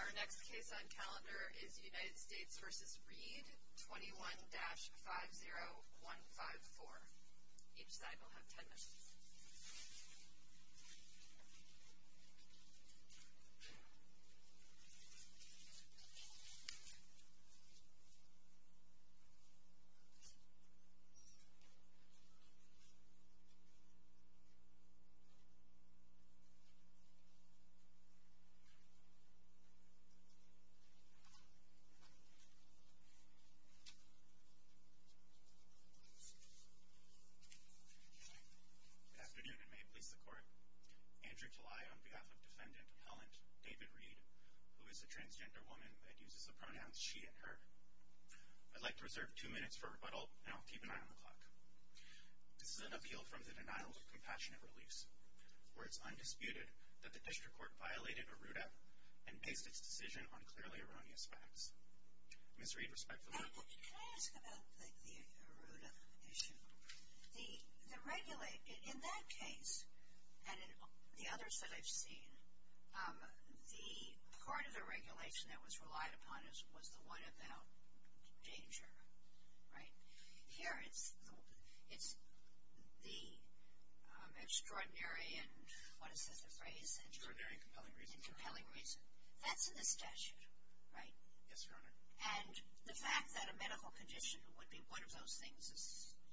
Our next case on calendar is United States v. Read, 21-50154. Each side will have 10 minutes. Good afternoon, and may it please the Court. Andrew Talai on behalf of Defendant Helen David Read, who is a transgender woman that uses the pronouns she and her. I'd like to reserve two minutes for rebuttal, and I'll keep an eye on the clock. This is an appeal from the denial of compassionate release, where it's undisputed that the District Court violated ARRUDA and based its decision on clearly erroneous facts. Ms. Read, respectfully. Can I ask about the ARRUDA issue? In that case, and in the others that I've seen, the part of the regulation that was relied upon was the one about danger, right? Here, it's the extraordinary and, what is this, the phrase? Extraordinary and compelling reason. And compelling reason. That's in the statute, right? Yes, Your Honor. And the fact that a medical condition would be one of those things is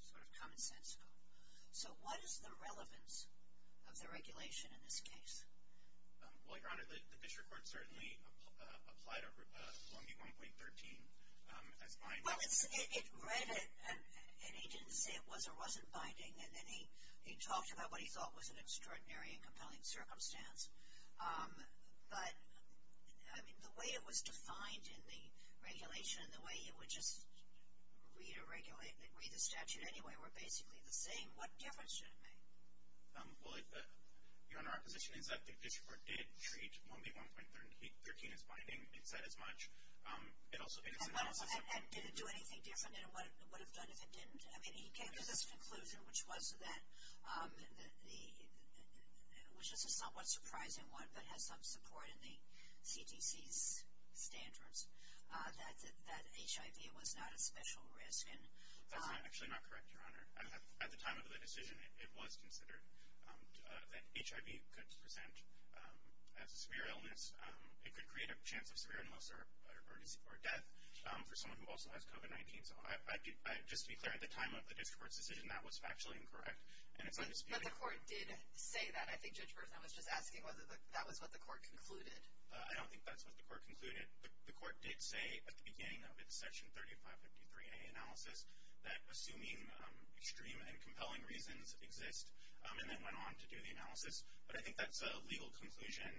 sort of commonsensical. So what is the relevance of the regulation in this case? Well, Your Honor, the District Court certainly applied ARRUDA 1B.1.13. Well, it read it, and he didn't say it was or wasn't binding, and then he talked about what he thought was an extraordinary and compelling circumstance. But, I mean, the way it was defined in the regulation and the way it would just read the statute anyway were basically the same. What difference did it make? Well, Your Honor, our position is that the District Court did treat 1B.1.13 as binding and said as much. And did it do anything different? And what it would have done if it didn't? I mean, he came to this conclusion, which is a somewhat surprising one, but has some support in the CDC's standards, that HIV was not a special risk. That's actually not correct, Your Honor. At the time of the decision, it was considered that HIV could present as a severe illness. It could create a chance of severe illness or death for someone who also has COVID-19. So just to be clear, at the time of the District Court's decision, that was factually incorrect, and it's undisputed. But the court did say that. I think Judge Burson was just asking whether that was what the court concluded. I don't think that's what the court concluded. The court did say at the beginning of its Section 3553A analysis that assuming extreme and compelling reasons exist, and then went on to do the analysis. But I think that's a legal conclusion,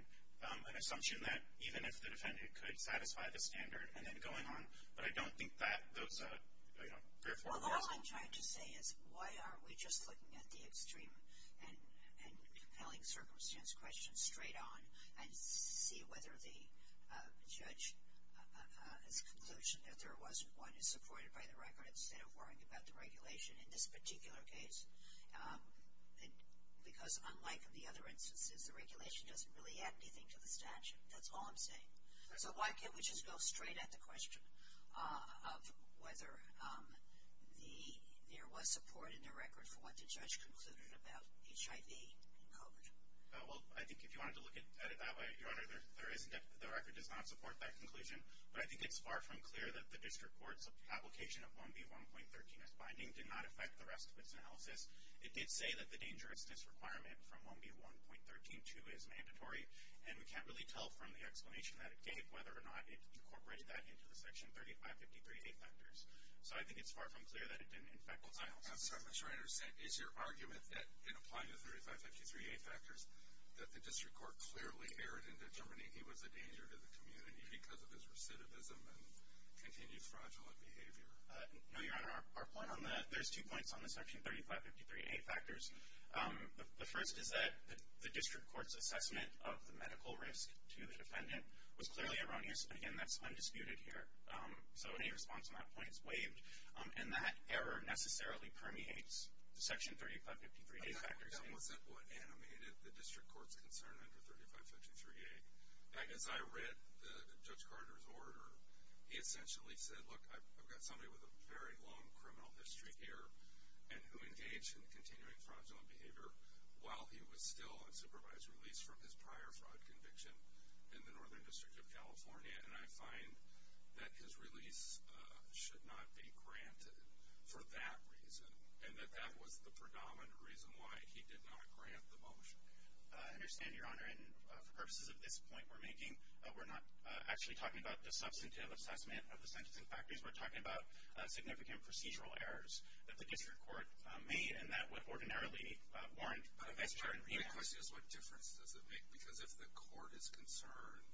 an assumption that even if the defendant could satisfy the standard, and then going on. But I don't think that those are, you know, fair formulas. Well, all I'm trying to say is why aren't we just looking at the extreme and compelling circumstance question straight on and see whether the judge's conclusion, if there wasn't one, is supported by the record instead of worrying about the regulation in this particular case. Because unlike the other instances, the regulation doesn't really add anything to the statute. That's all I'm saying. So why can't we just go straight at the question of whether there was support in the record for what the judge concluded about HIV and COVID? Well, I think if you wanted to look at it that way, Your Honor, the record does not support that conclusion. But I think it's far from clear that the District Court's application of 1B1.13 as binding did not affect the rest of its analysis. It did say that the dangerousness requirement from 1B1.13.2 is mandatory. And we can't really tell from the explanation that it gave whether or not it incorporated that into the Section 3553A factors. So I think it's far from clear that it didn't, in fact, result. I'm sorry, Mr. Reiner. Is your argument that in applying the 3553A factors that the District Court clearly erred into determining he was a danger to the community because of his recidivism and continued fraudulent behavior? No, Your Honor. There's two points on the Section 3553A factors. The first is that the District Court's assessment of the medical risk to the defendant was clearly erroneous. Again, that's undisputed here. So any response on that point is waived. And that error necessarily permeates the Section 3553A factors. But that wasn't what animated the District Court's concern under 3553A. As I read Judge Carter's order, he essentially said, look, I've got somebody with a very long criminal history here and who engaged in continuing fraudulent behavior while he was still on supervised release from his prior fraud conviction in the Northern District of California. And I find that his release should not be granted for that reason and that that was the predominant reason why he did not grant the motion. I understand, Your Honor. And for purposes of this point we're making, we're not actually talking about the substantive assessment of the sentencing factors. We're talking about significant procedural errors that the District Court made and that would ordinarily warrant a vice-chair and remand. The question is, what difference does it make? Because if the court is concerned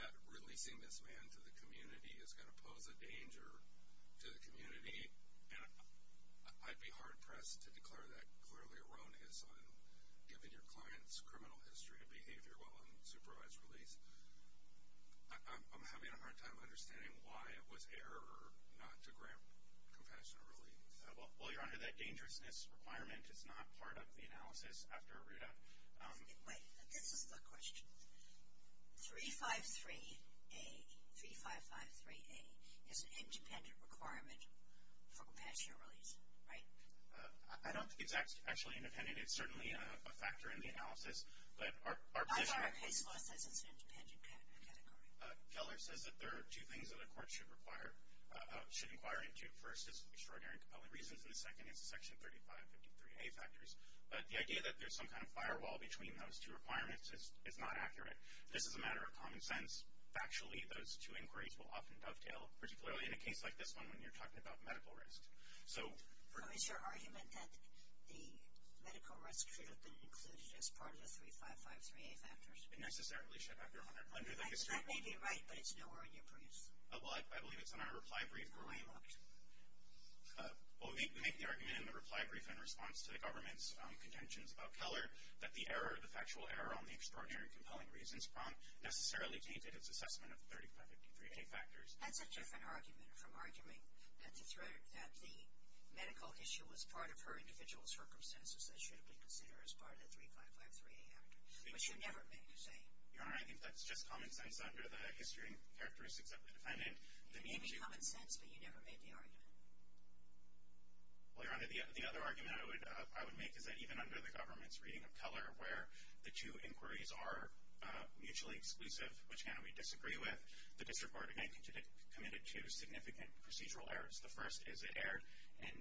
that releasing this man to the community is going to pose a danger to the community, and I'd be hard-pressed to declare that clearly erroneous on giving your client's criminal history and behavior while on supervised release. I'm having a hard time understanding why it was error not to grant compassionate relief. Well, Your Honor, that dangerousness requirement is not part of the analysis after a readout. Wait, this is the question. 353A, 3553A, is an independent requirement for compassionate release, right? I don't think it's actually independent. It's certainly a factor in the analysis, but our position— How far is it as an independent category? Keller says that there are two things that a court should inquire into. First is extraordinary and compelling reasons, and the second is the Section 3553A factors. But the idea that there's some kind of firewall between those two requirements is not accurate. This is a matter of common sense. Factually, those two inquiries will often dovetail, particularly in a case like this one when you're talking about medical risk. Well, is your argument that the medical risk should have been included as part of the 3553A factors? It necessarily should, Your Honor. That may be right, but it's nowhere in your brief. Well, I believe it's in our reply brief. Where are you looking? Well, we make the argument in the reply brief in response to the government's contentions about Keller that the error, the factual error on the extraordinary and compelling reasons prompt necessarily dated its assessment of the 3553A factors. That's a different argument from arguing that the medical issue was part of her individual circumstances that should have been considered as part of the 3553A factors, which you never made to say. Your Honor, I think that's just common sense under the history and characteristics of the defendant. It may be common sense, but you never made the argument. Well, Your Honor, the other argument I would make is that even under the government's reading of Keller, where the two inquiries are mutually exclusive, which cannot be disagreed with, the district court again committed two significant procedural errors. The first is it erred in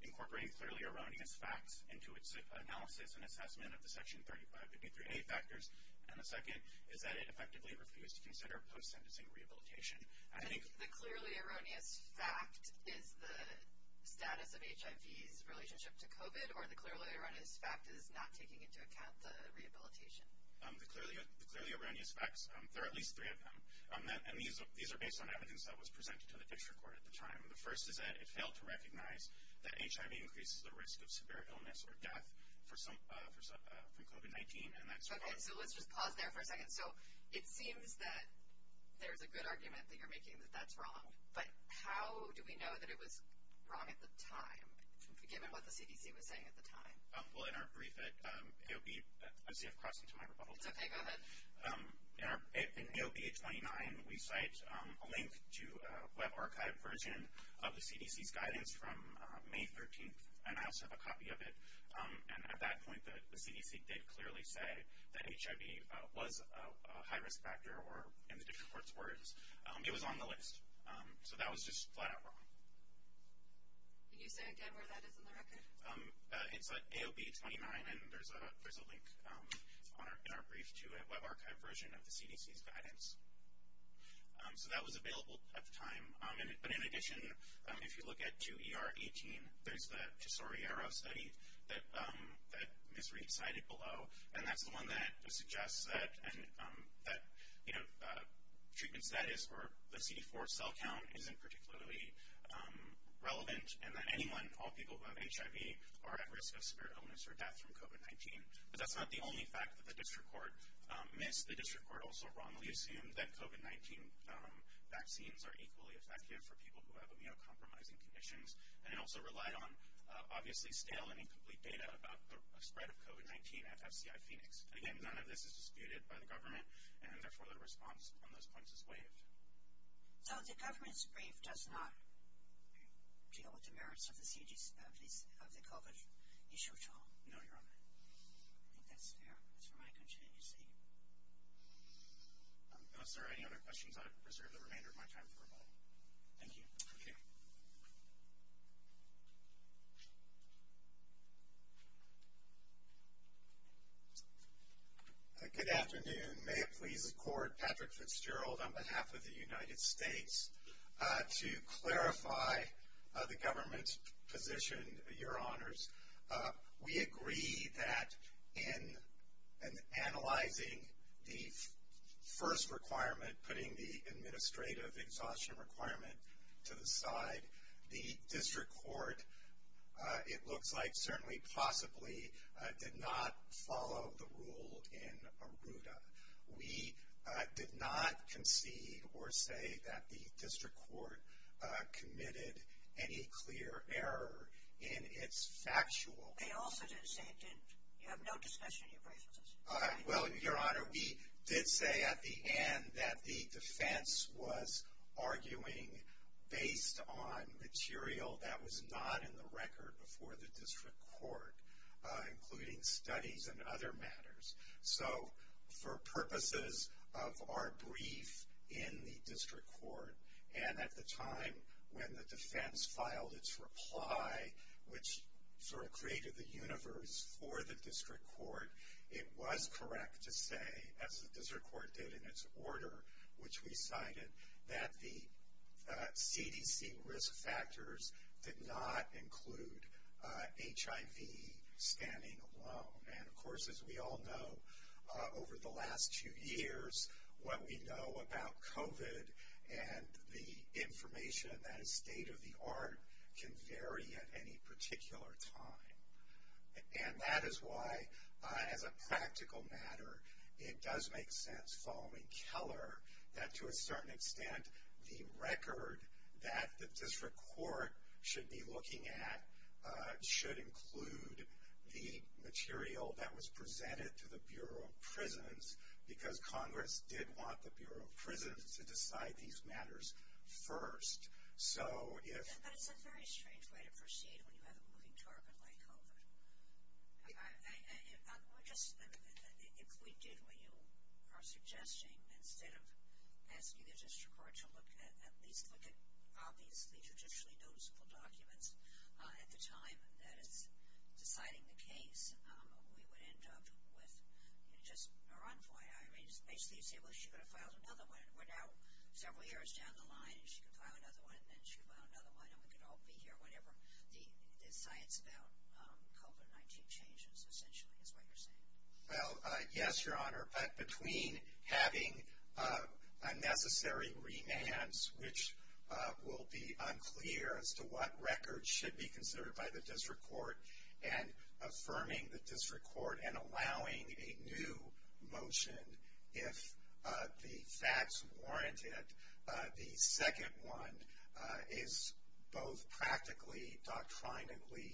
incorporating clearly erroneous facts into its analysis and assessment of the section 3553A factors, and the second is that it effectively refused to consider post-sentencing rehabilitation. The clearly erroneous fact is the status of HIV's relationship to COVID, or the clearly erroneous fact is not taking into account the rehabilitation? The clearly erroneous facts, there are at least three of them, and these are based on evidence that was presented to the district court at the time. The first is that it failed to recognize that HIV increases the risk of severe illness or death from COVID-19. Okay, so let's just pause there for a second. So it seems that there's a good argument that you're making that that's wrong, but how do we know that it was wrong at the time, given what the CDC was saying at the time? Well, in our brief at AOB, I see I've crossed into my rebuttal time. It's okay, go ahead. In AOB 829, we cite a link to a web archive version of the CDC's guidance from May 13th, and I also have a copy of it, and at that point, the CDC did clearly say that HIV was a high-risk factor, or in the district court's words, it was on the list. So that was just flat-out wrong. Can you say again where that is in the record? It's at AOB 829, and there's a link in our brief to a web archive version of the CDC's guidance. So that was available at the time. But in addition, if you look at 2ER18, there's the Tesoriero study that Ms. Reed cited below, and that's the one that suggests that treatment status or the CD4 cell count isn't particularly relevant and that anyone, all people who have HIV, are at risk of spirit illness or death from COVID-19. But that's not the only fact that the district court missed. The district court also wrongly assumed that COVID-19 vaccines are equally effective for people who have immunocompromising conditions, and it also relied on obviously stale and incomplete data about the spread of COVID-19 at FCI Phoenix. Again, none of this is disputed by the government, and therefore the response on those points is waived. So the government's brief does not deal with the merits of the COVID issue at all? No, Your Honor. I think that's fair. That's where my conscience is. If there are any other questions, I reserve the remainder of my time for rebuttal. Thank you. Okay. Good afternoon. May it please the Court, Patrick Fitzgerald, on behalf of the United States, to clarify the government position, Your Honors. We agree that in analyzing the first requirement, putting the administrative exhaustion requirement to the side, the district court, it looks like, certainly possibly did not follow the rule in ARRUDA. We did not concede or say that the district court committed any clear error in its factual. They also didn't say it didn't. You have no discussion in your brief with us. Well, Your Honor, we did say at the end that the defense was arguing based on material that was not in the record before the district court, including studies and other matters. So for purposes of our brief in the district court, and at the time when the defense filed its reply, which sort of created the universe for the district court, it was correct to say, as the district court did in its order, which we cited, that the CDC risk factors did not include HIV scanning alone. And, of course, as we all know, over the last two years, what we know about COVID and the information that is state-of-the-art can vary at any particular time. And that is why, as a practical matter, it does make sense, following Keller, that to a certain extent, the record that the district court should be looking at should include the material that was presented to the Bureau of Prisons, because Congress did want the Bureau of Prisons to decide these matters first. So if... But it's a very strange way to proceed when you have a moving target like COVID. We're just... If we did what you are suggesting, instead of asking the district court to look at, at least look at obviously traditionally noticeable documents at the time that it's deciding the case, we would end up with just a run for it. I mean, basically you say, well, she could have filed another one. We're now several years down the line, and she can file another one, and then she can file another one, and then we can all be here whenever the science about COVID-19 changes, essentially, is what you're saying. Well, yes, Your Honor, but between having unnecessary remands, which will be unclear as to what records should be considered by the district court, and affirming the district court and allowing a new motion if the facts warrant it, the second one is both practically, doctrinically,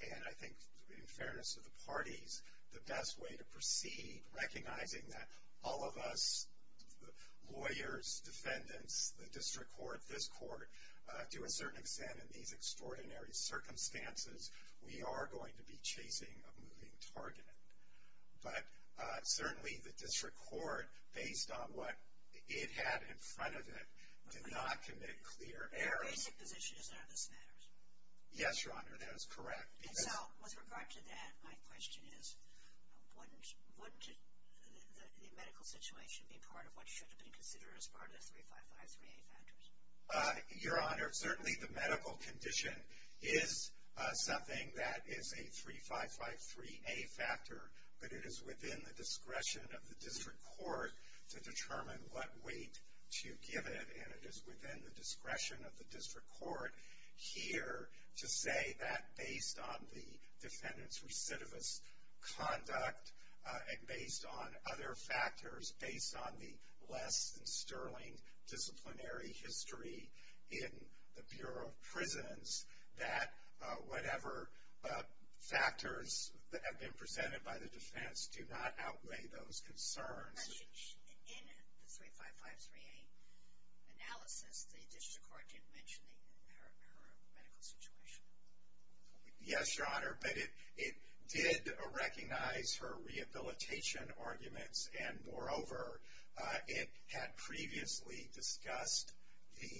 and I think in fairness to the parties, the best way to proceed, recognizing that all of us, lawyers, defendants, the district court, this court, to a certain extent in these extraordinary circumstances, we are going to be chasing a moving target. But certainly the district court, based on what it had in front of it, did not commit clear errors. Your basic position is that this matters. Yes, Your Honor, that is correct. And so with regard to that, my question is, wouldn't the medical situation be part of what should have been considered as part of the 3553A factors? Your Honor, certainly the medical condition is something that is a 3553A factor, but it is within the discretion of the district court to determine what weight to give it, and it is within the discretion of the district court here to say that, based on the defendant's recidivist conduct and based on other factors, based on the less than sterling disciplinary history in the Bureau of Prisons, that whatever factors have been presented by the defense do not outweigh those concerns. In the 3553A analysis, the district court didn't mention her medical situation. Yes, Your Honor, but it did recognize her rehabilitation arguments, and moreover, it had previously discussed the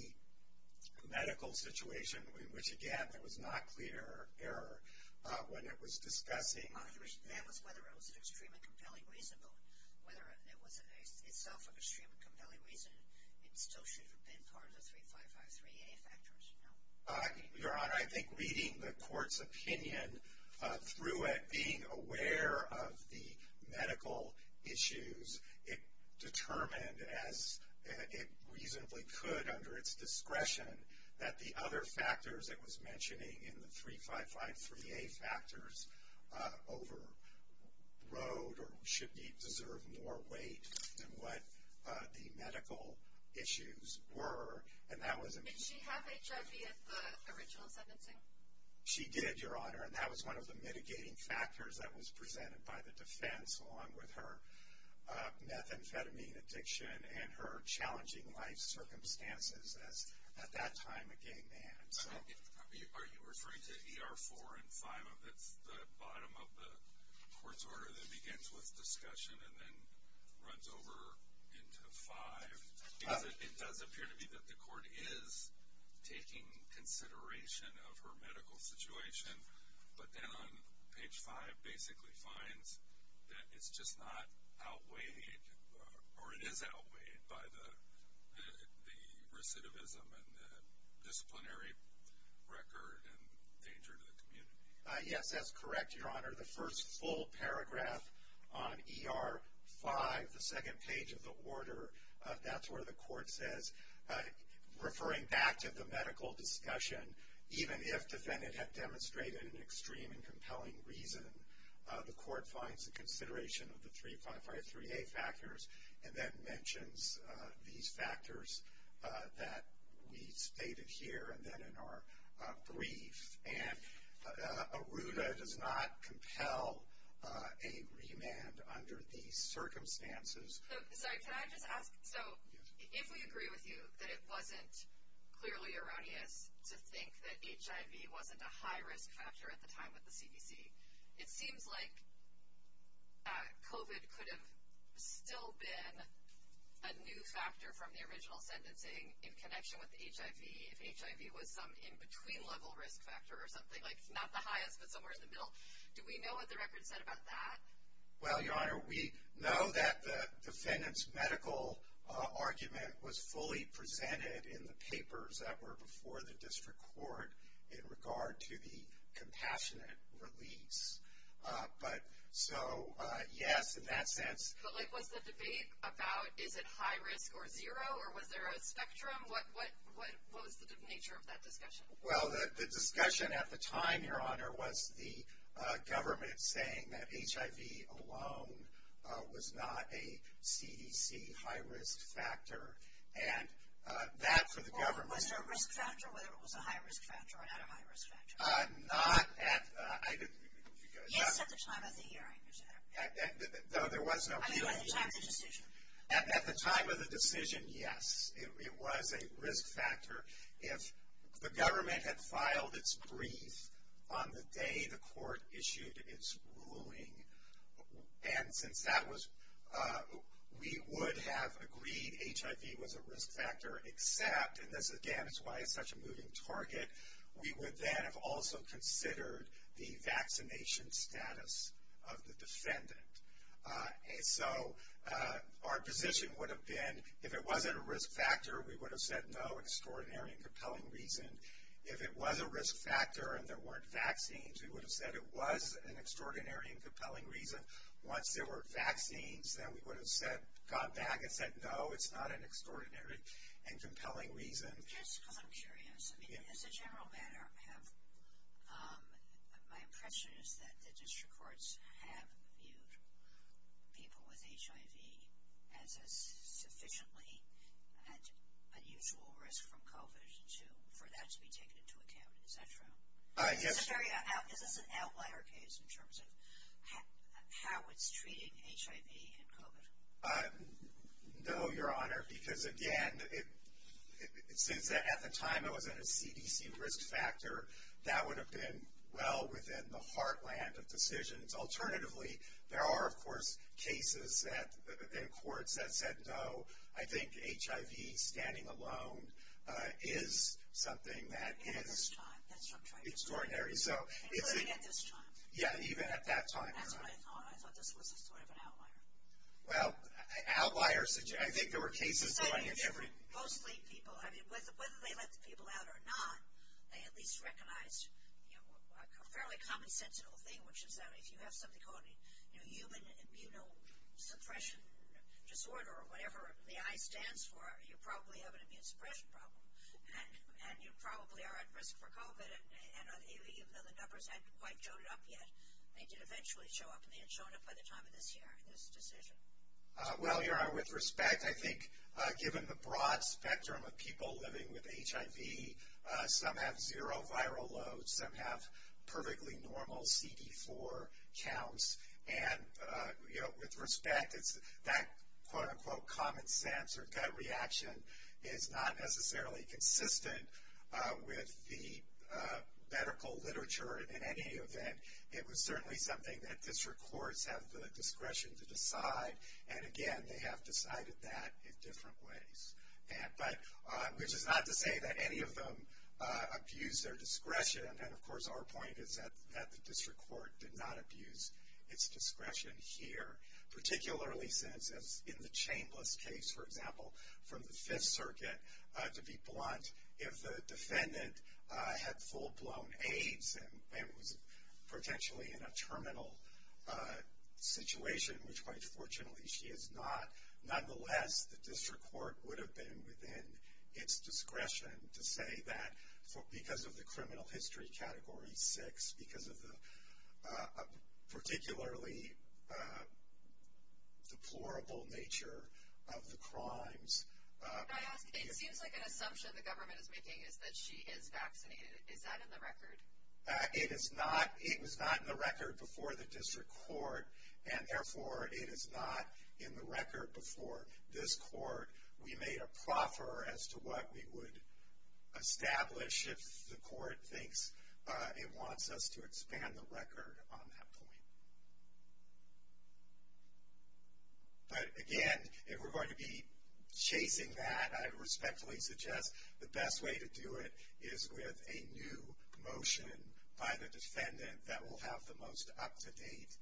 medical situation, which, again, there was not clear error when it was discussing. That was whether it was an extremely compelling reason, but whether it was itself an extremely compelling reason, it still should have been part of the 3553A factors, no? Your Honor, I think reading the court's opinion through it, being aware of the medical issues, it determined, as it reasonably could under its discretion, that the other factors it was mentioning in the 3553A factors overrode or should deserve more weight than what the medical issues were, and that was a mistake. Did she have HIV at the original sentencing? She did, Your Honor, and that was one of the mitigating factors that was presented by the defense, along with her methamphetamine addiction and her challenging life circumstances as, at that time, a gay man. Are you referring to ER 4 and 5? That's the bottom of the court's order that begins with discussion and then runs over into 5? It does appear to me that the court is taking consideration of her medical situation, but then on page 5 basically finds that it's just not outweighed, or it is outweighed by the recidivism and the disciplinary record and danger to the community. Yes, that's correct, Your Honor. The first full paragraph on ER 5, the second page of the order, that's where the court says, referring back to the medical discussion, even if defendant had demonstrated an extreme and compelling reason, the court finds the consideration of the 3553A factors and then mentions these factors that we stated here and then in our brief. And ARUDA does not compel a remand under these circumstances. Sorry, can I just ask? So if we agree with you that it wasn't clearly erroneous to think that HIV wasn't a high-risk factor at the time with the CDC, it seems like COVID could have still been a new factor from the original sentencing in connection with HIV if HIV was some in-between-level risk factor or something, like not the highest but somewhere in the middle. Do we know what the record said about that? Well, Your Honor, we know that the defendant's medical argument was fully presented in the papers that were before the district court in regard to the compassionate release. But so, yes, in that sense. But, like, was the debate about is it high risk or zero, or was there a spectrum? What was the nature of that discussion? Well, the discussion at the time, Your Honor, was the government saying that HIV alone was not a CDC high-risk factor. And that, for the government. Well, was there a risk factor, whether it was a high-risk factor or not a high-risk factor? Not at, I didn't. Yes, at the time of the hearing. Though there was no hearing. I mean, at the time of the decision. At the time of the decision, yes. It was a risk factor if the government had filed its brief on the day the court issued its ruling. And since that was, we would have agreed HIV was a risk factor, except. And this, again, is why it's such a moving target. We would then have also considered the vaccination status of the defendant. And so, our position would have been, if it wasn't a risk factor, we would have said, no, extraordinary and compelling reason. If it was a risk factor and there weren't vaccines, we would have said it was an extraordinary and compelling reason. Once there were vaccines, then we would have gone back and said, no, it's not an extraordinary and compelling reason. Just because I'm curious, I mean, as a general matter, my impression is that the district courts have viewed people with HIV as sufficiently at unusual risk from COVID for that to be taken into account. Is that true? Yes. Is this an outlier case in terms of how it's treating HIV and COVID? No, Your Honor, because, again, since at the time it wasn't a CDC risk factor, that would have been well within the heartland of decisions. Alternatively, there are, of course, cases in courts that said, no, I think HIV, standing alone, is something that is extraordinary. Even at this time? Yeah, even at that time. That's what I thought. I thought this was sort of an outlier. Well, outliers, I think there were cases. Mostly people. I mean, whether they let the people out or not, they at least recognized a fairly commonsensical thing, which is that if you have something called a human immunosuppression disorder or whatever the I stands for, you probably have an immunosuppression problem and you probably are at risk for COVID. Even though the numbers hadn't quite shown up yet, they did eventually show up, and they had shown up by the time of this year, this decision. Well, Your Honor, with respect, I think given the broad spectrum of people living with HIV, some have zero viral loads, some have perfectly normal CD4 counts. And, you know, with respect, that quote-unquote common sense or gut reaction is not necessarily consistent with the medical literature in any event. It was certainly something that district courts have the discretion to decide. And, again, they have decided that in different ways, which is not to say that any of them abused their discretion. And, of course, our point is that the district court did not abuse its discretion here, particularly since in the Chambliss case, for example, from the Fifth Circuit, to be blunt, if the defendant had full-blown AIDS and was potentially in a terminal situation, which quite fortunately she is not, nonetheless, the district court would have been within its discretion to say that because of the criminal history category six, because of the particularly deplorable nature of the crimes. Can I ask, it seems like an assumption the government is making is that she is vaccinated. Is that in the record? It is not. It was not in the record before the district court, and, therefore, it is not in the record before this court. We made a proffer as to what we would establish if the court thinks it wants us to expand the record on that point. But, again, if we're going to be chasing that, I respectfully suggest the best way to do it is with a new motion by the defendant that will have the most up-to-date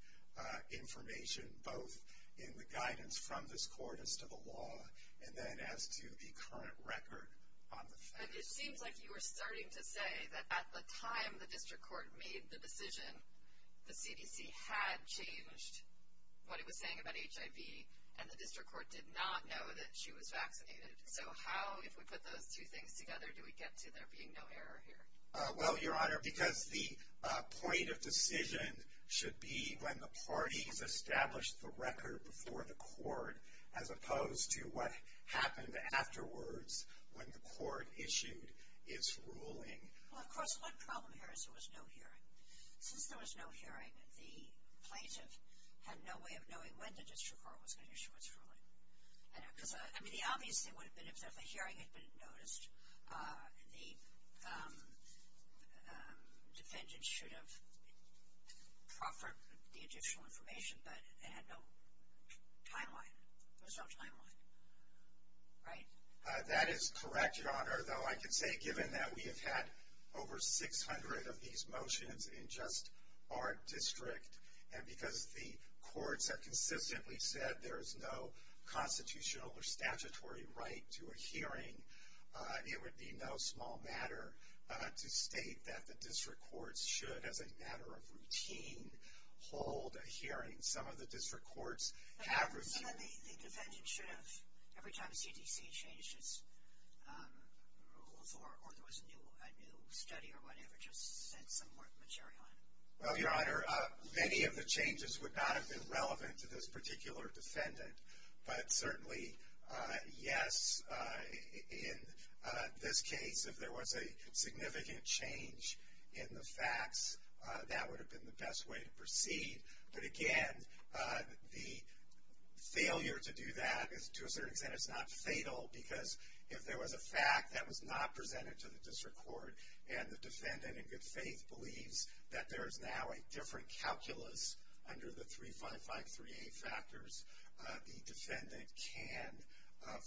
information, both in the guidance from this court as to the law, and then as to the current record on the defendant. But it seems like you were starting to say that at the time the district court made the decision, the CDC had changed what it was saying about HIV, and the district court did not know that she was vaccinated. So how, if we put those two things together, do we get to there being no error here? Well, Your Honor, because the point of decision should be when the parties established the record before the court, as opposed to what happened afterwards when the court issued its ruling. Well, of course, one problem here is there was no hearing. Since there was no hearing, the plaintiff had no way of knowing when the district court was going to issue its ruling. I mean, the obvious thing would have been if there was a hearing that had been noticed, the defendant should have proffered the additional information, but it had no timeline. There was no timeline. Right? That is correct, Your Honor. Though I can say, given that we have had over 600 of these motions in just our district, and because the courts have consistently said there is no constitutional or statutory right to a hearing, it would be no small matter to state that the district courts should, as a matter of routine, hold a hearing. Some of the district courts have reviewed. So the defendant should have, every time the CDC changed its rules or there was a new study or whatever, just sent some more material in. Well, Your Honor, many of the changes would not have been relevant to this particular defendant, but certainly, yes, in this case, if there was a significant change in the facts, that would have been the best way to proceed. But, again, the failure to do that, to a certain extent, is not fatal, because if there was a fact that was not presented to the district court and the defendant in good faith believes that there is now a different calculus under the 355-3A factors, the defendant can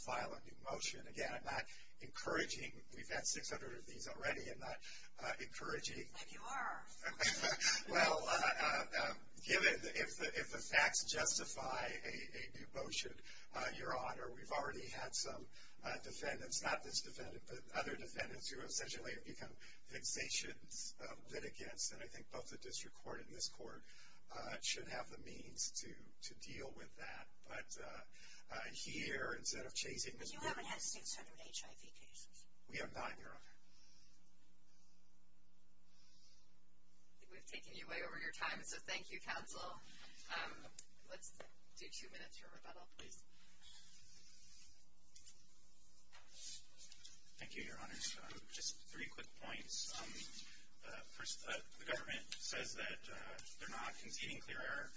file a new motion. Again, I'm not encouraging. We've had 600 of these already. I'm not encouraging. And you are. Well, given, if the facts justify a new motion, Your Honor, we've already had some defendants, not this defendant, but other defendants, who essentially have become fixations, litigants, and I think both the district court and this court should have the means to deal with that. But here, instead of chasing these cases. But you haven't had 600 HIV cases. We have nine, Your Honor. We've taken you way over your time, so thank you, counsel. Let's do two minutes for rebuttal, please. Thank you, Your Honors. Just three quick points. First, the government says that they're not conceding clear error.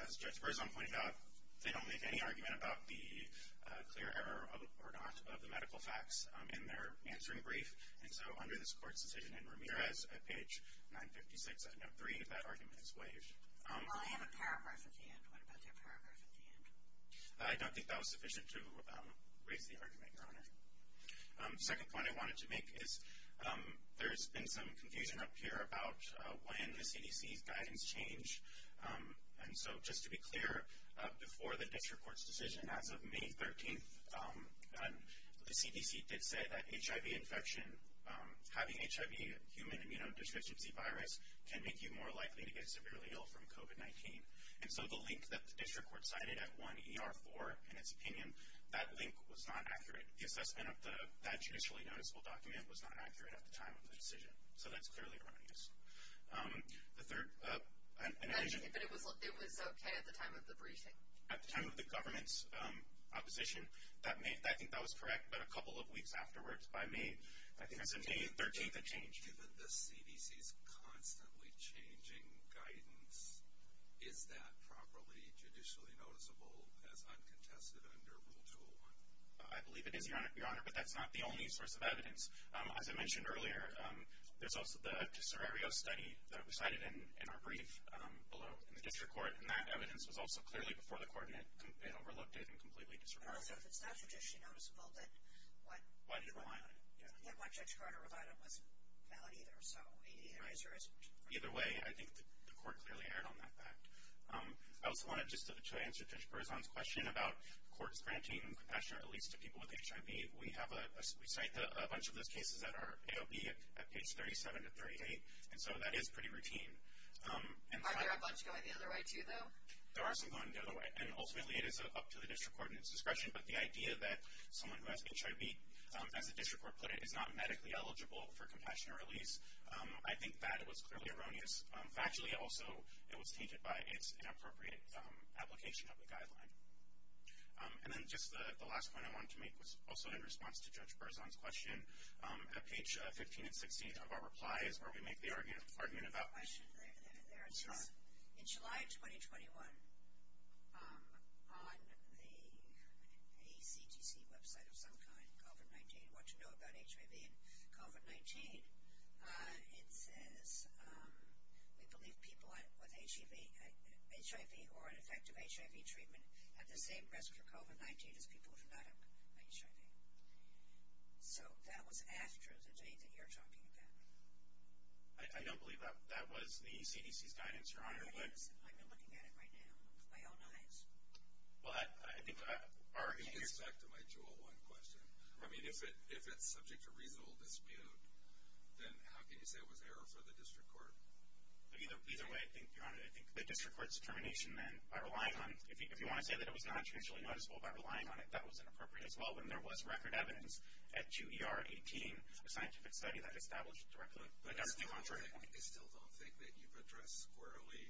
As Judge Berzon pointed out, they don't make any argument about the clear error or not of the medical facts in their answering brief. And so under this court's decision in Ramirez, at page 956, I note three, that argument is waived. Well, I have a paragraph at the end. What about that paragraph at the end? I don't think that was sufficient to raise the argument, Your Honor. The second point I wanted to make is there's been some confusion up here about when the CDC's guidance changed. And so just to be clear, before the district court's decision, as of May 13th, the CDC did say that HIV infection, having HIV, human immunodeficiency virus, can make you more likely to get severely ill from COVID-19. And so the link that the district court cited at 1ER4, in its opinion, that link was not accurate. The assessment of that judicially noticeable document was not accurate at the time of the decision. So that's clearly erroneous. The third- But it was okay at the time of the briefing? At the time of the government's opposition. I think that was correct, but a couple of weeks afterwards, by May 13th, it changed. Given the CDC's constantly changing guidance, is that properly judicially noticeable as uncontested under Rule 201? I believe it is, Your Honor, but that's not the only source of evidence. As I mentioned earlier, there's also the Tesorario study that was cited in our brief below in the district court, and that evidence was also clearly before the court, and it overlooked it and completely disregarded it. But also, if it's not judicially noticeable, then what- Why did it rely on it? Yeah, why Judge Carter relied on it wasn't valid either. So either way, I think the court clearly erred on that fact. I also wanted just to answer Judge Berzon's question about courts granting compassionate release to people with HIV. We cite a bunch of those cases that are AOB at page 37 to 38, and so that is pretty routine. Are there a bunch going the other way too, though? There are some going the other way, and ultimately it is up to the district court and its discretion. But the idea that someone who has HIV, as the district court put it, is not medically eligible for compassionate release, I think that was clearly erroneous. Factually, also, it was tainted by its inappropriate application of the guideline. And then just the last point I wanted to make was also in response to Judge Berzon's question. At page 15 and 16 of our replies, where we make the argument about- I have a question. There it is. In July 2021, on the ACGC website of some kind, COVID-19, what to know about HIV and COVID-19, it says, we believe people with HIV or an effective HIV treatment have the same risk for COVID-19 as people who do not have HIV. So that was after the date that you're talking about. I don't believe that was the CDC's guidance, Your Honor. It is, and I've been looking at it right now with my own eyes. Well, I think our- I think it's back to my 201 question. I mean, if it's subject to reasonable dispute, then how can you say it was error for the district court? Either way, I think, Your Honor, I think the district court's determination, then, by relying on- if you want to say that it was not intentionally noticeable by relying on it, that was inappropriate as well. When there was record evidence at 2ER18, a scientific study that established directly- But I still don't think that you've addressed squarely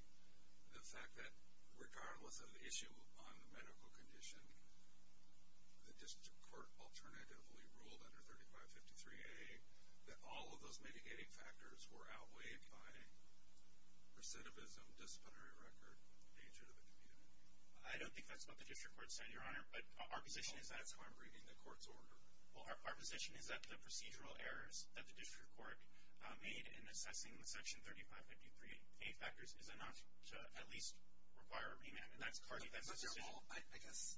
the fact that, the district court alternatively ruled under 3553A, that all of those mitigating factors were outweighed by recidivism, disciplinary record, danger to the community. I don't think that's what the district court said, Your Honor, but our position is that- Well, that's how I'm reading the court's order. Well, our position is that the procedural errors that the district court made in assessing the section 3553A factors is enough to at least require a remand. Mr. Hall, I guess,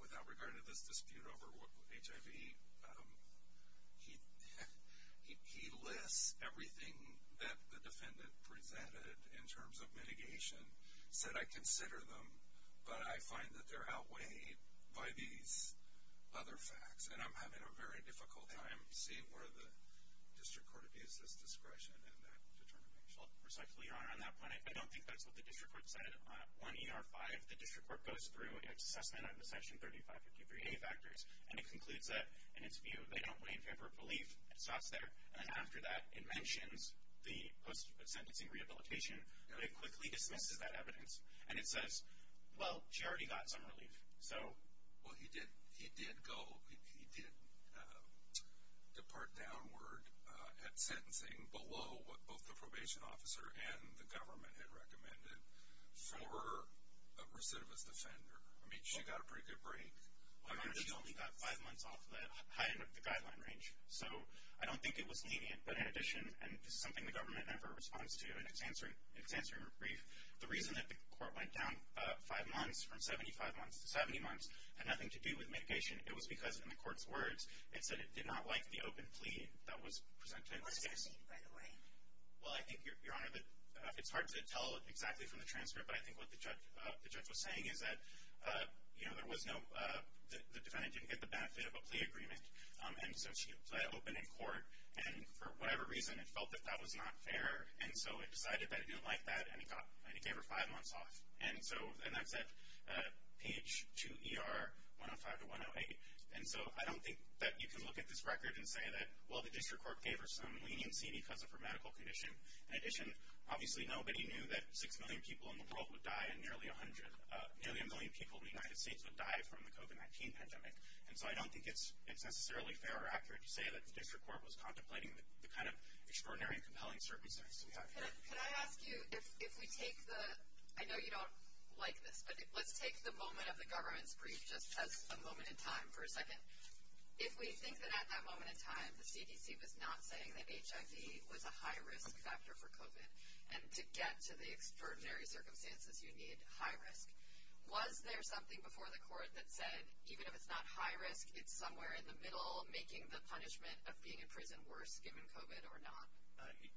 without regard to this dispute over HIV, he lists everything that the defendant presented in terms of mitigation, said, I consider them, but I find that they're outweighed by these other facts, and I'm having a very difficult time seeing where the district court abuses discretion in that determination. Respectfully, Your Honor, on that point, I don't think that's what the district court said. On E.R. 5, the district court goes through its assessment of the section 3553A factors, and it concludes that, in its view, they don't weigh in favor of relief. It stops there, and then after that, it mentions the post-sentencing rehabilitation, but it quickly dismisses that evidence, and it says, well, she already got some relief. Well, he did depart downward at sentencing below what both the probation officer and the government had recommended for a recidivist offender. I mean, she got a pretty good break. Well, Your Honor, she only got five months off the high end of the guideline range, so I don't think it was lenient, but in addition, and this is something the government never responds to, and it's answering her brief, the reason that the court went down five months from 75 months to 70 months had nothing to do with mitigation. It was because, in the court's words, it said it did not like the open plea that was presented in this case. Well, I think, Your Honor, that it's hard to tell exactly from the transcript, but I think what the judge was saying is that, you know, there was no – the defendant didn't get the benefit of a plea agreement, and so she let it open in court, and for whatever reason, it felt that that was not fair, and so it decided that it didn't like that, and it gave her five months off, and that's at page 2ER, 105 to 108. And so I don't think that you can look at this record and say that, well, the district court gave her some leniency because of her medical condition. In addition, obviously nobody knew that 6 million people in the world would die, and nearly a million people in the United States would die from the COVID-19 pandemic, and so I don't think it's necessarily fair or accurate to say that the district court was contemplating the kind of extraordinary and compelling circumstances we have here. Can I ask you, if we take the – I know you don't like this, but let's take the moment of the government's brief just as a moment in time for a second. If we think that at that moment in time, the CDC was not saying that HIV was a high-risk factor for COVID, and to get to the extraordinary circumstances, you need high risk, was there something before the court that said even if it's not high risk, it's somewhere in the middle making the punishment of being in prison worse given COVID or not?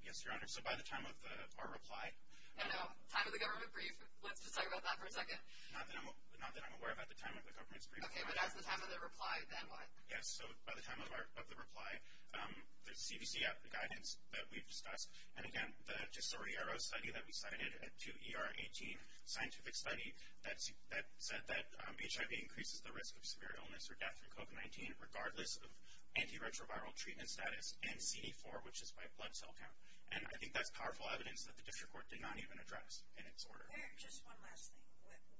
Yes, Your Honor, so by the time of our reply – Oh, no, time of the government brief? Let's just talk about that for a second. Not that I'm aware of at the time of the government's brief. Okay, but at the time of the reply, then what? Yes, so by the time of the reply, the CDC guidance that we've discussed, and again, the Tesoriero study that we cited, 2ER18 scientific study, that said that HIV increases the risk of severe illness or death from COVID-19 regardless of antiretroviral treatment status and CD4, which is by blood cell count, and I think that's powerful evidence that the district court did not even address in its order. Just one last thing.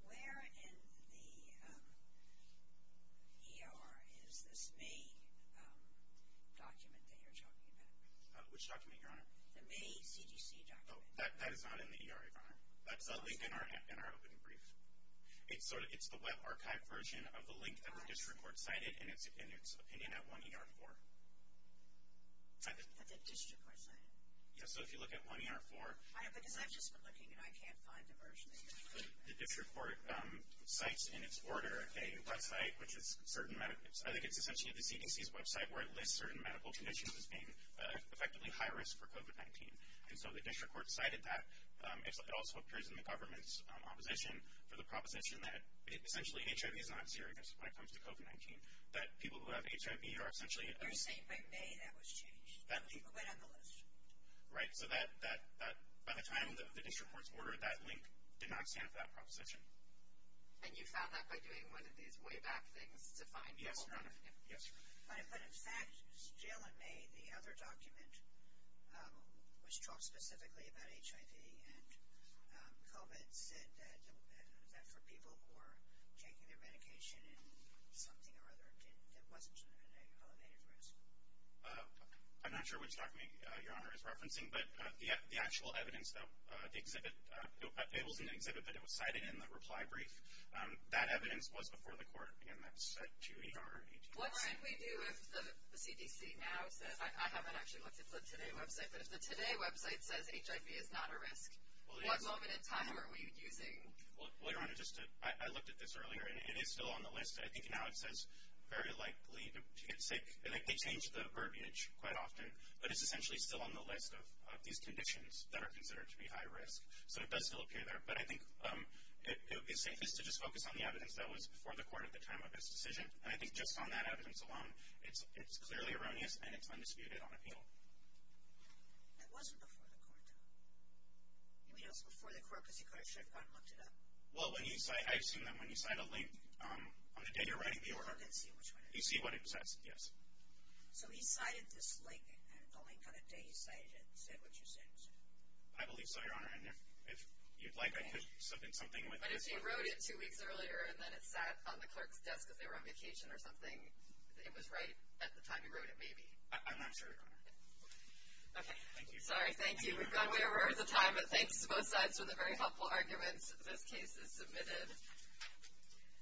Where in the ER is this May document that you're talking about? Which document, Your Honor? The May CDC document. Oh, that is not in the ER, Your Honor. That's a link in our open brief. It's the web archive version of the link that the district court cited in its opinion at 1ER4. That the district court cited? Yes, so if you look at 1ER4 – Because I've just been looking, and I can't find the version that you're talking about. The district court cites in its order a website, which is certain medical – for COVID-19, and so the district court cited that. It also appears in the government's opposition for the proposition that essentially HIV is not serious when it comes to COVID-19, that people who have HIV are essentially – You're saying by May that was changed, that people went on the list? Right, so by the time the district court's order, that link did not stand for that proposition. And you found that by doing one of these way-back things to find people? Yes, Your Honor. But in fact, still in May, the other document, which talks specifically about HIV and COVID, said that for people who were taking their medication in something or other, it wasn't an elevated risk. I'm not sure which document Your Honor is referencing, but the actual evidence that the exhibit – It wasn't an exhibit, but it was cited in the reply brief. That evidence was before the court, and that's at 2ER18. What should we do if the CDC now says – I haven't actually looked at the Today website, but if the Today website says HIV is not a risk, what moment in time are we using? Well, Your Honor, I looked at this earlier, and it is still on the list. I think now it says very likely to get sick. They change the verbiage quite often, but it's essentially still on the list of these conditions that are considered to be high risk. So it does still appear there, but I think it would be safest to just focus on the evidence that was before the court at the time of this decision. And I think just on that evidence alone, it's clearly erroneous, and it's undisputed on appeal. It wasn't before the court. It was before the court because he could have shut it down and looked it up. Well, I've seen that when you cite a link on the day you're writing the order. I didn't see which one it was. You see what it says, yes. So he cited this link, and the link on the day he cited it said what you said. I believe so, Your Honor, and if you'd like, I could submit something with it. But if he wrote it two weeks earlier, and then it sat on the clerk's desk as they were on vacation or something, it was right at the time he wrote it, maybe. I'm not sure, Your Honor. Okay. Thank you. Sorry, thank you. We've gone way over the time, but thanks to both sides for the very helpful arguments. This case is submitted.